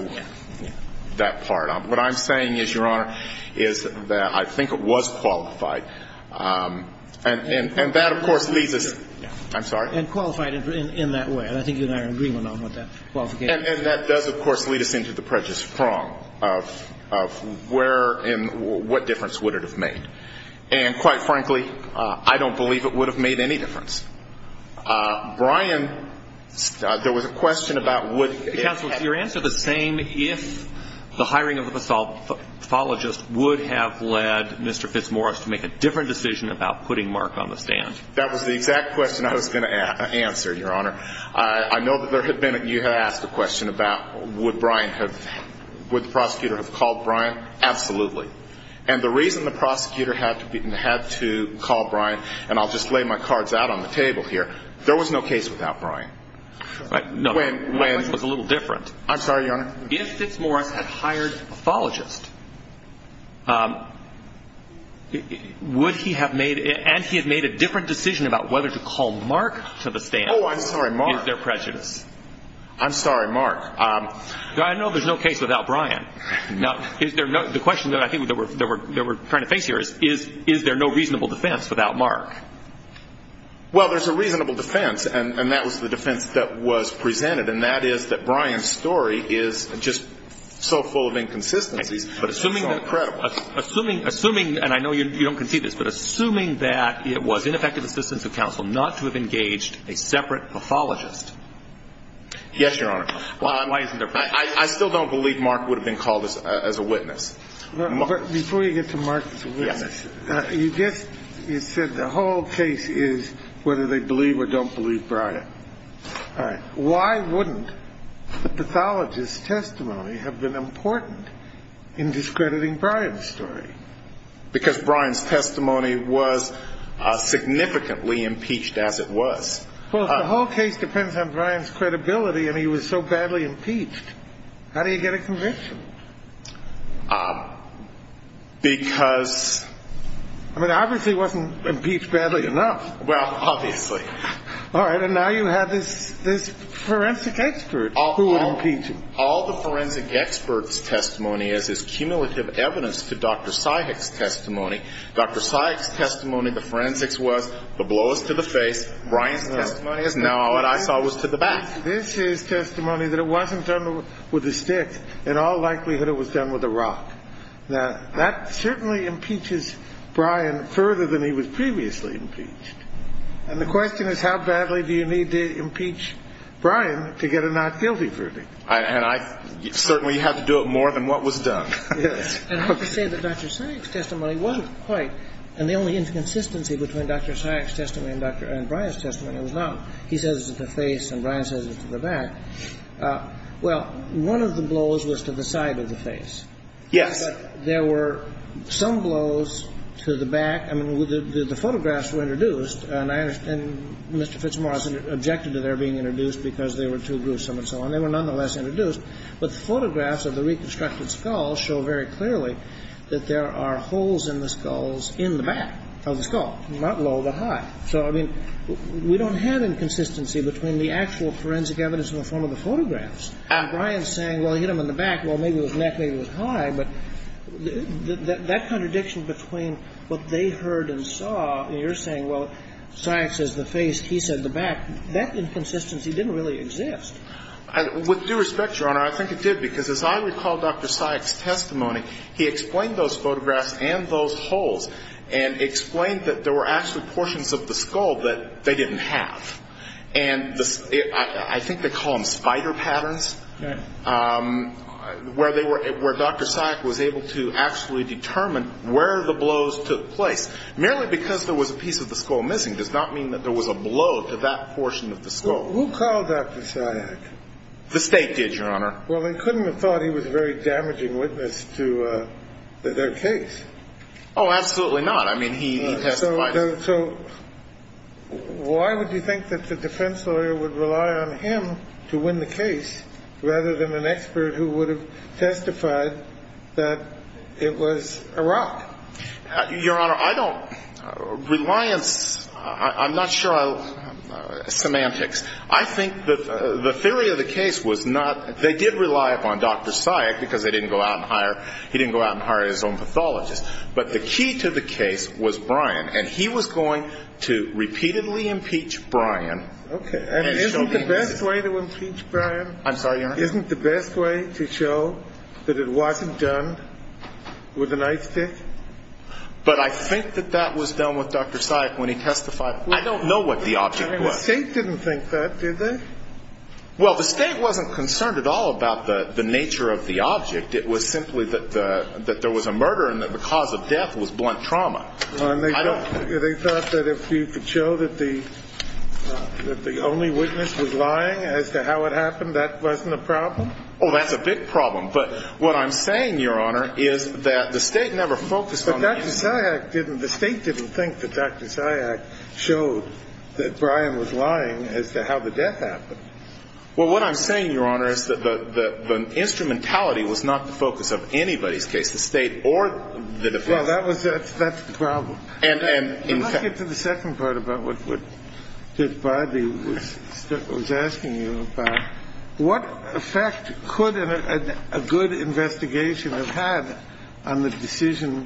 that part. What I'm saying is, Your Honor, is that I think it was qualified. And that, of course, leads us. I'm sorry? And qualified in that way. And I think you and I are in agreement on what that qualification is. And that does, of course, lead us into the prejudice prong of where and what difference would it have made. And quite frankly, I don't believe it would have made any difference. Brian, there was a question about would it have made a difference. Different decision about putting Mark on the stand. That was the exact question I was going to answer, Your Honor. I know that you had asked a question about would the prosecutor have called Brian. Absolutely. And the reason the prosecutor had to call Brian, and I'll just lay my cards out on the table here, there was no case without Brian. No, my question was a little different. I'm sorry, Your Honor? If Fitzmaurice had hired a pathologist, would he have made, and he had made a different decision about whether to call Mark to the stand. Oh, I'm sorry, Mark. Is there prejudice? I'm sorry, Mark. I know there's no case without Brian. Now, the question that I think they were trying to face here is, is there no reasonable defense without Mark? Well, there's a reasonable defense, and that was the defense that was presented, and that is that Brian's story is just so full of inconsistencies, but it's so incredible. Assuming, and I know you don't concede this, but assuming that it was ineffective assistance of counsel not to have engaged a separate pathologist. Yes, Your Honor. Why isn't there prejudice? I still don't believe Mark would have been called as a witness. Before you get to Mark as a witness, you said the whole case is whether they believe or don't believe Brian. All right. Why wouldn't the pathologist's testimony have been important in discrediting Brian's story? Because Brian's testimony was significantly impeached as it was. Well, if the whole case depends on Brian's credibility and he was so badly impeached, how do you get a conviction? Because... I mean, obviously he wasn't impeached badly enough. Well, obviously. All right. And now you have this forensic expert who would impeach him. All the forensic expert's testimony is is cumulative evidence to Dr. Sajak's testimony. Dr. Sajak's testimony, the forensics was the blow is to the face. Brian's testimony is, no, what I saw was to the back. This is testimony that it wasn't done with a stick. In all likelihood, it was done with a rock. Now, that certainly impeaches Brian further than he was previously impeached. And the question is, how badly do you need to impeach Brian to get a not guilty verdict? And I certainly had to do it more than what was done. Yes. And I have to say that Dr. Sajak's testimony wasn't quite... And the only inconsistency between Dr. Sajak's testimony and Brian's testimony was not he says it to the face and Brian says it to the back. Well, one of the blows was to the side of the face. Yes. But there were some blows to the back. I mean, the photographs were introduced. And I understand Mr. Fitzmaurice objected to their being introduced because they were too gruesome and so on. They were nonetheless introduced. But the photographs of the reconstructed skull show very clearly that there are holes in the skulls in the back of the skull, not low but high. So, I mean, we don't have inconsistency between the actual forensic evidence in the form of the photographs and Brian saying, well, he hit him in the back, well, maybe it was neck, maybe it was high. But that contradiction between what they heard and saw and you're saying, well, Sajak says the face, he said the back, that inconsistency didn't really exist. With due respect, Your Honor, I think it did because as I recall Dr. Sajak's testimony, he explained those photographs and those holes and explained that there were actually portions of the skull that they didn't have. And I think they call them spider patterns, where Dr. Sajak was able to actually determine where the blows took place. Merely because there was a piece of the skull missing does not mean that there was a blow to that portion of the skull. Who called Dr. Sajak? The state did, Your Honor. Well, they couldn't have thought he was a very damaging witness to their case. Oh, absolutely not. I mean, he testified. So why would you think that the defense lawyer would rely on him to win the case rather than an expert who would have testified that it was Iraq? Your Honor, I don't – reliance – I'm not sure I – semantics. I think the theory of the case was not – they did rely upon Dr. Sajak because they didn't go out and hire – he didn't go out and hire his own pathologist. But the key to the case was Brian. And he was going to repeatedly impeach Brian. Okay. And isn't the best way to impeach Brian? I'm sorry, Your Honor? Isn't the best way to show that it wasn't done with an ice pick? But I think that that was done with Dr. Sajak when he testified. I don't know what the object was. I mean, the state didn't think that, did they? Well, the state wasn't concerned at all about the nature of the object. It was simply that there was a murder and that the cause of death was blunt trauma. And they thought that if you could show that the only witness was lying as to how it happened, that wasn't a problem? Oh, that's a big problem. But what I'm saying, Your Honor, is that the state never focused on – But Dr. Sajak didn't – the state didn't think that Dr. Sajak showed that Brian was lying as to how the death happened. Well, what I'm saying, Your Honor, is that the instrumentality was not the focus of anybody's case, the state or the defense. Well, that was – that's the problem. And in fact – Let's get to the second part about what Judge Bradley was asking you about. What effect could a good investigation have had on the decision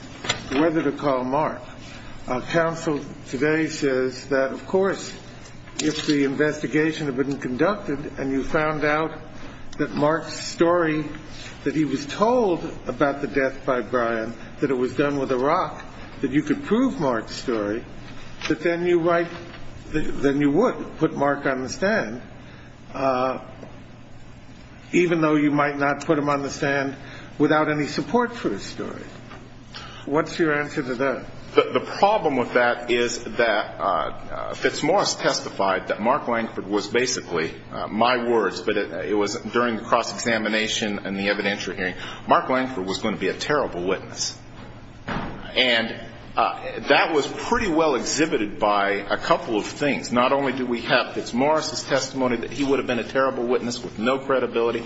whether to call Mark? Counsel today says that, of course, if the investigation had been conducted and you found out that Mark's story, that he was told about the death by Brian, that it was done with a rock, that you could prove Mark's story, that then you would put Mark on the stand, even though you might not put him on the stand without any support for his story. What's your answer to that? The problem with that is that Fitzmaurice testified that Mark Langford was basically – my words, but it was during the cross-examination and the evidentiary hearing – Mark Langford was going to be a terrible witness. And that was pretty well exhibited by a couple of things. Not only did we have Fitzmaurice's testimony that he would have been a terrible witness with no credibility,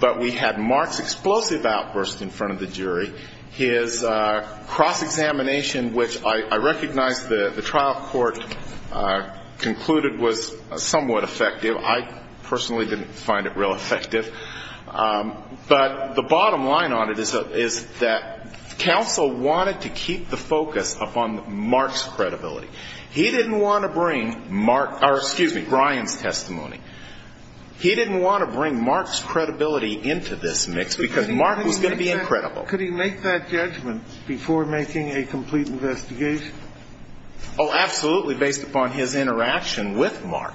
but we had Mark's explosive outburst in front of the jury. His cross-examination, which I recognize the trial court concluded was somewhat effective. I personally didn't find it real effective. But the bottom line on it is that counsel wanted to keep the focus upon Mark's credibility. He didn't want to bring Mark – or excuse me, Brian's testimony. He didn't want to bring Mark's credibility into this mix because Mark was going to be incredible. Could he make that judgment before making a complete investigation? Oh, absolutely, based upon his interaction with Mark.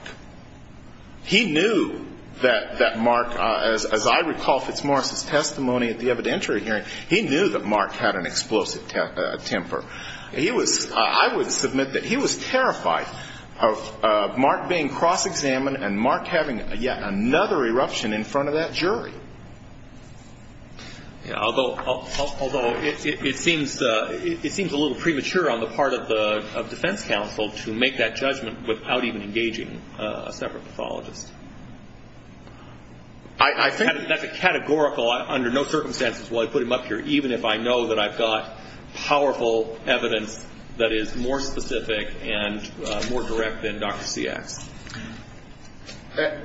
He knew that Mark, as I recall Fitzmaurice's testimony at the evidentiary hearing, he knew that Mark had an explosive temper. I would submit that he was terrified of Mark being cross-examined and Mark having yet another eruption in front of that jury. Although it seems a little premature on the part of defense counsel to make that judgment without even engaging a separate pathologist. I think that's a categorical – under no circumstances will I put him up here, even if I know that I've got powerful evidence that is more specific and more direct than Dr. Seax.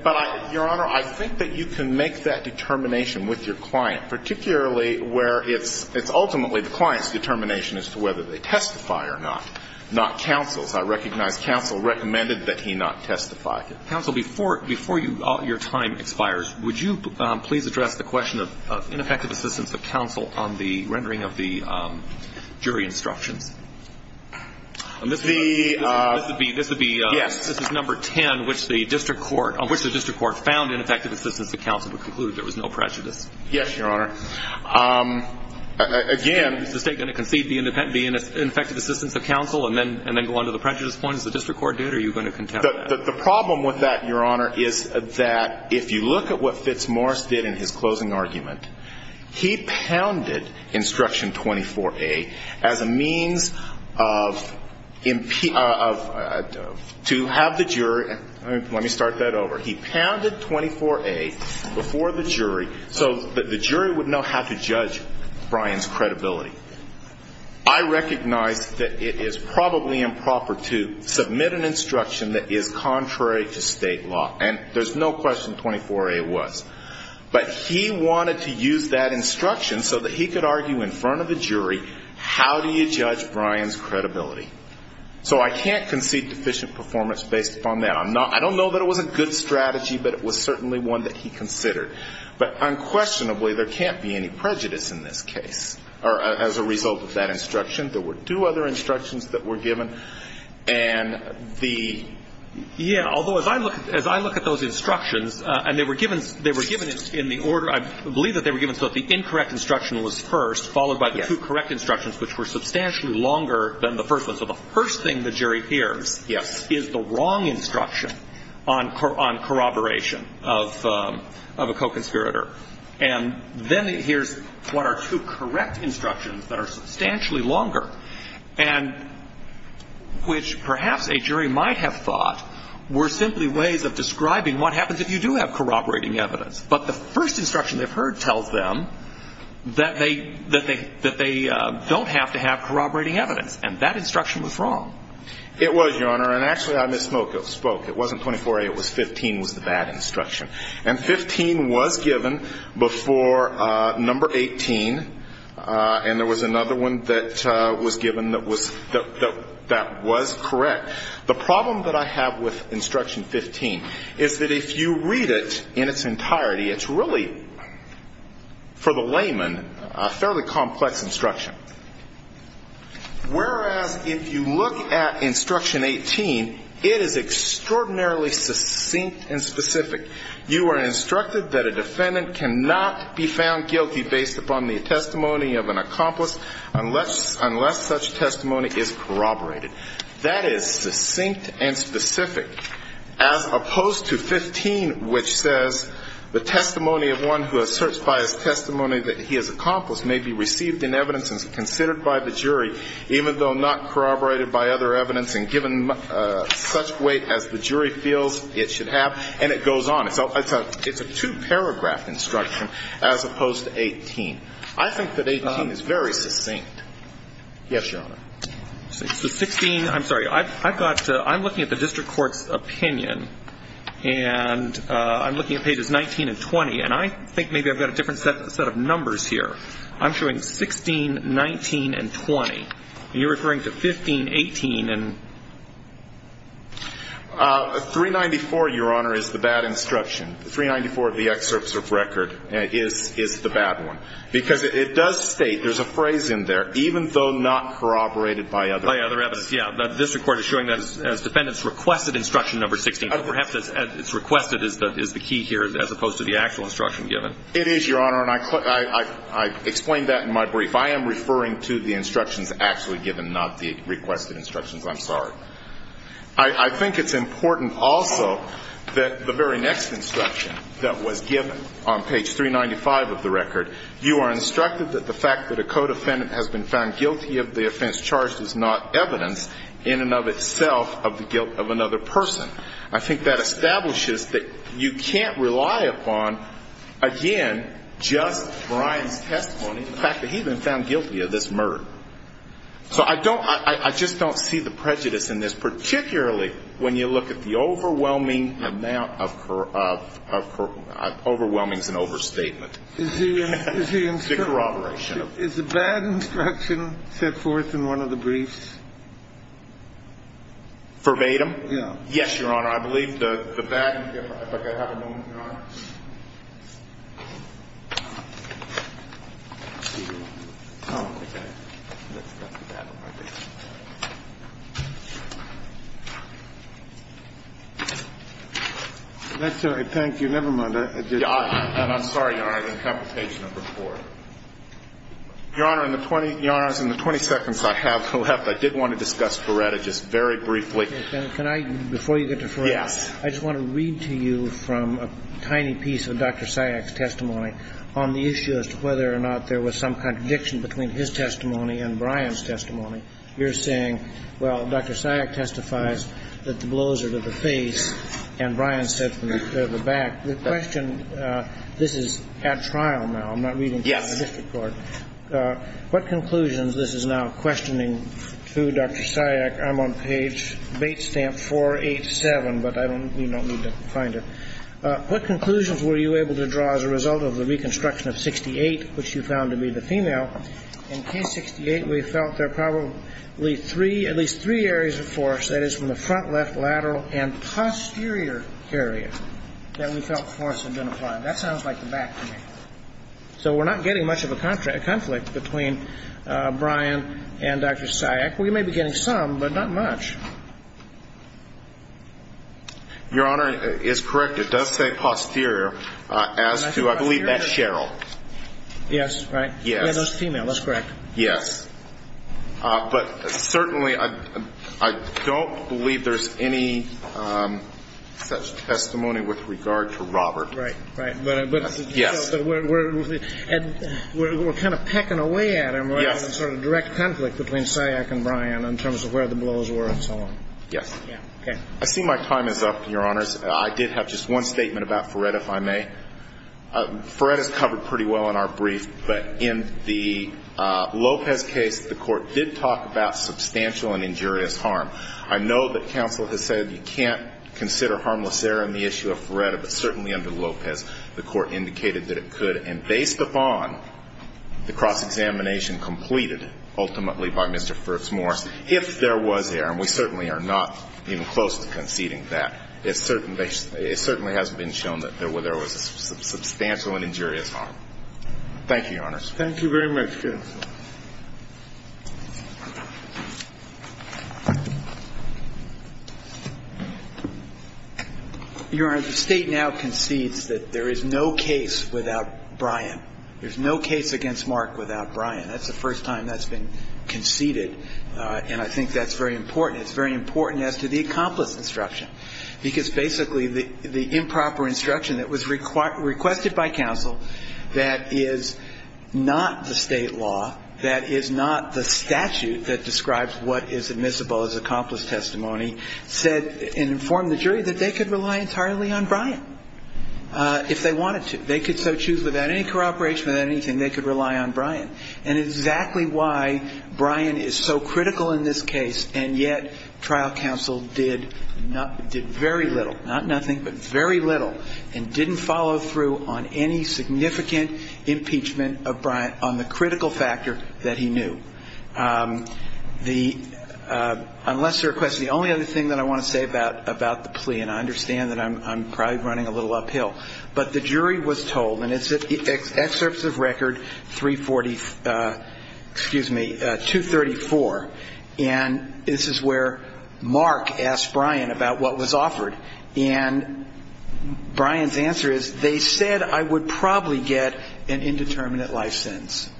But, Your Honor, I think that you can make that determination with your client, particularly where it's ultimately the client's determination as to whether they testify or not, not counsel's. I recognize counsel recommended that he not testify. Counsel, before your time expires, would you please address the question of ineffective assistance of counsel on the rendering of the jury instructions? This would be – this is number 10, which the district court – on which the district court found ineffective assistance of counsel to conclude there was no prejudice. Yes, Your Honor. Again – Is the state going to concede the ineffective assistance of counsel and then go on to the prejudice points the district court did, or are you going to contend with that? The problem with that, Your Honor, is that if you look at what Fitzmaurice did in his closing argument, he pounded instruction 24A as a means of – to have the jury – let me start that over. He pounded 24A before the jury so that the jury would know how to judge Brian's credibility. I recognize that it is probably improper to submit an instruction that is contrary to state law, and there's no question 24A was. But he wanted to use that instruction so that he could argue in front of the jury, how do you judge Brian's credibility? So I can't concede deficient performance based upon that. I'm not – I don't know that it was a good strategy, but it was certainly one that he considered. But unquestionably, there can't be any prejudice in this case as a result of that instruction. There were two other instructions that were given, and the – Yeah, although as I look at those instructions, and they were given in the order – I believe that they were given so that the incorrect instruction was first, followed by the two correct instructions, which were substantially longer than the first one. And then here's what are two correct instructions that are substantially longer, and which perhaps a jury might have thought were simply ways of describing what happens if you do have corroborating evidence. But the first instruction they've heard tells them that they don't have to have corroborating evidence, and that instruction was wrong. It was, Your Honor. And actually, I misspoke. It wasn't 24A. It was 15 was the bad instruction. And 15 was given before number 18, and there was another one that was given that was – that was correct. The problem that I have with instruction 15 is that if you read it in its entirety, it's really, for the layman, a fairly complex instruction. Whereas, if you look at instruction 18, it is extraordinarily succinct and specific. You are instructed that a defendant cannot be found guilty based upon the testimony of an accomplice unless such testimony is corroborated. That is succinct and specific, as opposed to 15, which says, The testimony of one who asserts by his testimony that he is an accomplice may be received in evidence and considered by the jury, even though not corroborated by other evidence and given such weight as the jury feels it should have. And it goes on. It's a two-paragraph instruction as opposed to 18. I think that 18 is very succinct. Yes, Your Honor. So 16 – I'm sorry. I've got – I'm looking at the district court's opinion, and I'm looking at pages 19 and 20, and I think maybe I've got a different set of numbers here. I'm showing 16, 19, and 20. And you're referring to 15, 18, and – 394, Your Honor, is the bad instruction. 394 of the excerpts of record is the bad one. Because it does state – there's a phrase in there, even though not corroborated by other evidence. By other evidence, yes. The district court is showing that as defendants requested instruction number 16, but perhaps it's requested is the key here as opposed to the actual instruction given. It is, Your Honor, and I explained that in my brief. I am referring to the instructions actually given, not the requested instructions. I'm sorry. I think it's important also that the very next instruction that was given on page 395 of the record, you are instructed that the fact that a co-defendant has been found guilty of the offense charged is not evidence in and of itself of the guilt of another person. I think that establishes that you can't rely upon, again, just Brian's testimony, the fact that he's been found guilty of this murder. So I don't – I just don't see the prejudice in this, particularly when you look at the overwhelming amount of – overwhelming is an overstatement. The corroboration. Is the bad instruction set forth in one of the briefs? Verbatim? Yes, Your Honor. I believe the bad – if I could have a moment, Your Honor. Let's see. Oh, okay. That's the bad one. Okay. I'm sorry. Thank you. Never mind. I'm sorry, Your Honor. It's on page number four. Your Honor, in the 20 seconds I have left, I did want to discuss Ferretta just very briefly. Can I – before you get to Ferretta. Yes. I just want to read to you from a tiny note. I'm not going to read out any piece of Dr. Syack's testimony on the issue as to whether or not there was some contradiction between his testimony and Brian's testimony. You're saying, well, Dr. Syack testifies that the blows are to the face and Brian said from the back. The question – this is at trial now. Yes. What conclusions – this is now questioning to Dr. Syack. I'm on page – bait stamp 487, but I don't – you don't need to find it. What conclusions were you able to draw as a result of the reconstruction of 68, which you found to be the female? In case 68, we felt there were probably three – at least three areas of force, that is from the front, left, lateral, and posterior area that we felt force had been applied. That sounds like the back to me. So we're not getting much of a conflict between Brian and Dr. Syack. We may be getting some, but not much. Your Honor, it's correct. It does say posterior as to – I believe that's Cheryl. Yes, right. Yes. Yeah, that's female. That's correct. Yes. But certainly I don't believe there's any such testimony with regard to Robert. Right. But we're kind of pecking away at him rather than sort of direct conflict between Syack and Brian in terms of where the blows were and so on. Yes. Okay. I see my time is up, Your Honors. I did have just one statement about Ferrett, if I may. Ferrett is covered pretty well in our brief, but in the Lopez case, the Court did talk about substantial and injurious harm. I know that counsel has said you can't consider harmless error in the issue of Ferrett, but certainly under Lopez, the Court indicated that it could. And based upon the cross-examination completed ultimately by Mr. Fritz Morse, if there was error, and we certainly are not even close to conceding that, it certainly has been shown that there was substantial and injurious harm. Thank you, Your Honors. Thank you very much, counsel. Your Honor, the State now concedes that there is no case without Brian. There's no case against Mark without Brian. That's the first time that's been conceded, and I think that's very important. It's very important as to the accomplice instruction, because basically the improper instruction that was requested by counsel that is not the State law, that is not the statute that describes what is admissible as accomplice testimony, said and informed the jury that they could rely entirely on Brian if they wanted to. They could so choose without any corroboration, without anything, they could rely on Brian. And it's exactly why Brian is so critical in this case, and yet trial counsel did very little, not nothing, but very little, and didn't follow through on any significant impeachment of Brian on the critical factor that he knew. Unless there are questions, the only other thing that I want to say about the plea, and I understand that I'm probably running a little uphill, but the jury was told, and it's at excerpts of record 340, excuse me, 234, and this is where Mark asked Brian about what was offered. And Brian's answer is, they said I would probably get an indeterminate life sentence.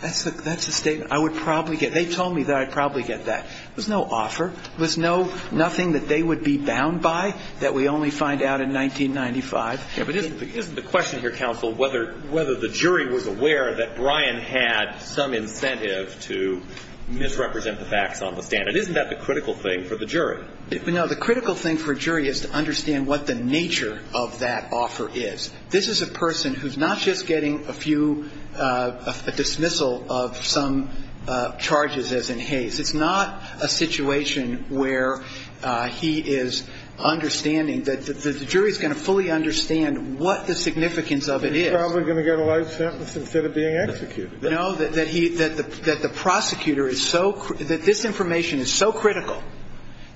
That's a statement. I would probably get. They told me that I'd probably get that. There's no offer. There's nothing that they would be bound by that we only find out in 1995. But isn't the question here, counsel, whether the jury was aware that Brian had some incentive to misrepresent the facts on the stand. Isn't that the critical thing for the jury? No, the critical thing for a jury is to understand what the nature of that offer is. This is a person who's not just getting a few, a dismissal of some charges as in Hays. It's not a situation where he is understanding that the jury is going to fully understand what the significance of it is. He's probably going to get a life sentence instead of being executed. No, that he – that the prosecutor is so – that this information is so critical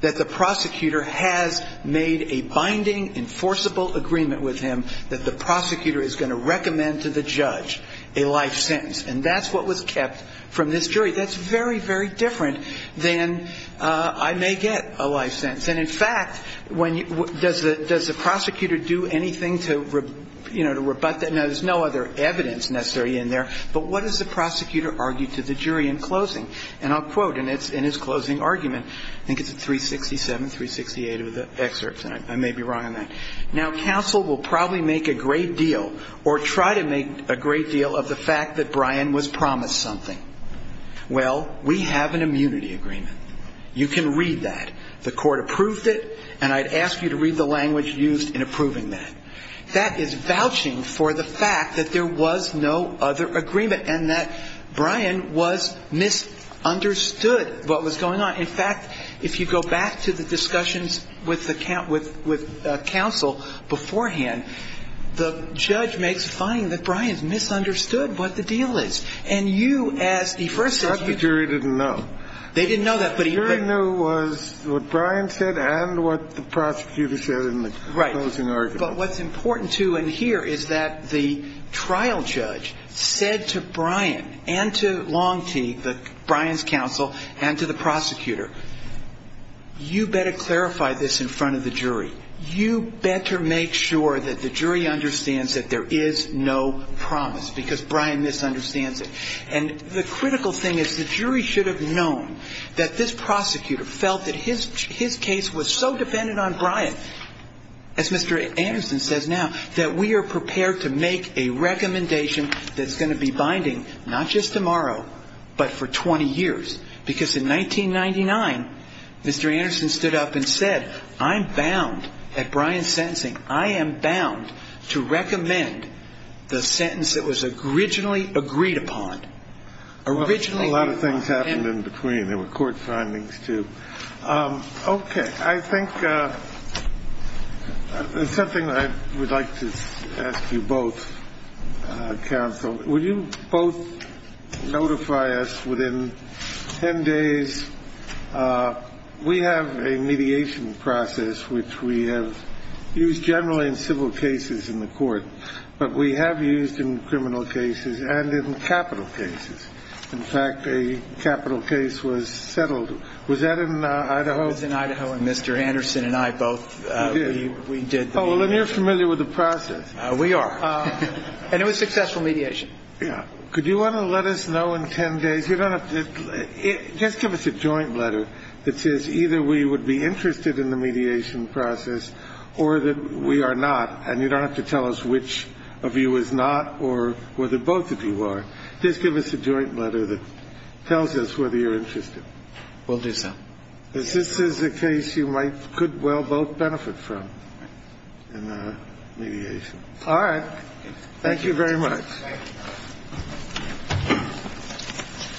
that the prosecutor has made a binding, enforceable agreement with him that the prosecutor is going to recommend to the judge a life sentence. And that's what was kept from this jury. That's very, very different than I may get a life sentence. And, in fact, when – does the prosecutor do anything to, you know, to rebut that? No, there's no other evidence necessarily in there. But what does the prosecutor argue to the jury in closing? And I'll quote in his closing argument. I think it's at 367, 368 of the excerpts, and I may be wrong on that. Now, counsel will probably make a great deal or try to make a great deal of the fact that Brian was promised something. Well, we have an immunity agreement. You can read that. The court approved it, and I'd ask you to read the language used in approving that. That is vouching for the fact that there was no other agreement and that Brian was – misunderstood what was going on. In fact, if you go back to the discussions with the – with counsel beforehand, the judge makes a finding that Brian's misunderstood what the deal is. And you, as he first said – But the jury didn't know. They didn't know that, but he – The jury knew was what Brian said and what the prosecutor said in the closing argument. Right. But what's important, too, in here is that the trial judge said to Brian and to Longtee, Brian's counsel, and to the prosecutor, you better clarify this in front of the jury. You better make sure that the jury understands that there is no promise because Brian misunderstands it. And the critical thing is the jury should have known that this prosecutor felt that his case was so dependent on Brian that, as Mr. Anderson says now, that we are prepared to make a recommendation that's going to be binding not just tomorrow but for 20 years. Because in 1999, Mr. Anderson stood up and said, I'm bound, at Brian's sentencing, I am bound to recommend the sentence that was originally agreed upon. A lot of things happened in between. There were court findings, too. Okay. I think there's something I would like to ask you both, counsel. Will you both notify us within 10 days? We have a mediation process which we have used generally in civil cases in the court, but we have used in criminal cases and in capital cases. In fact, a capital case was settled. Was that in Idaho? It was in Idaho. And Mr. Anderson and I both, we did the mediation. Oh, and you're familiar with the process. We are. And it was successful mediation. Could you want to let us know in 10 days? You don't have to – just give us a joint letter that says either we would be interested in the mediation process or that we are not, and you don't have to tell us which of you is not or whether both of you are. Just give us a joint letter that tells us whether you're interested. We'll do so. Because this is a case you might – could well both benefit from in the mediation. All right. Thank you very much. Thank you.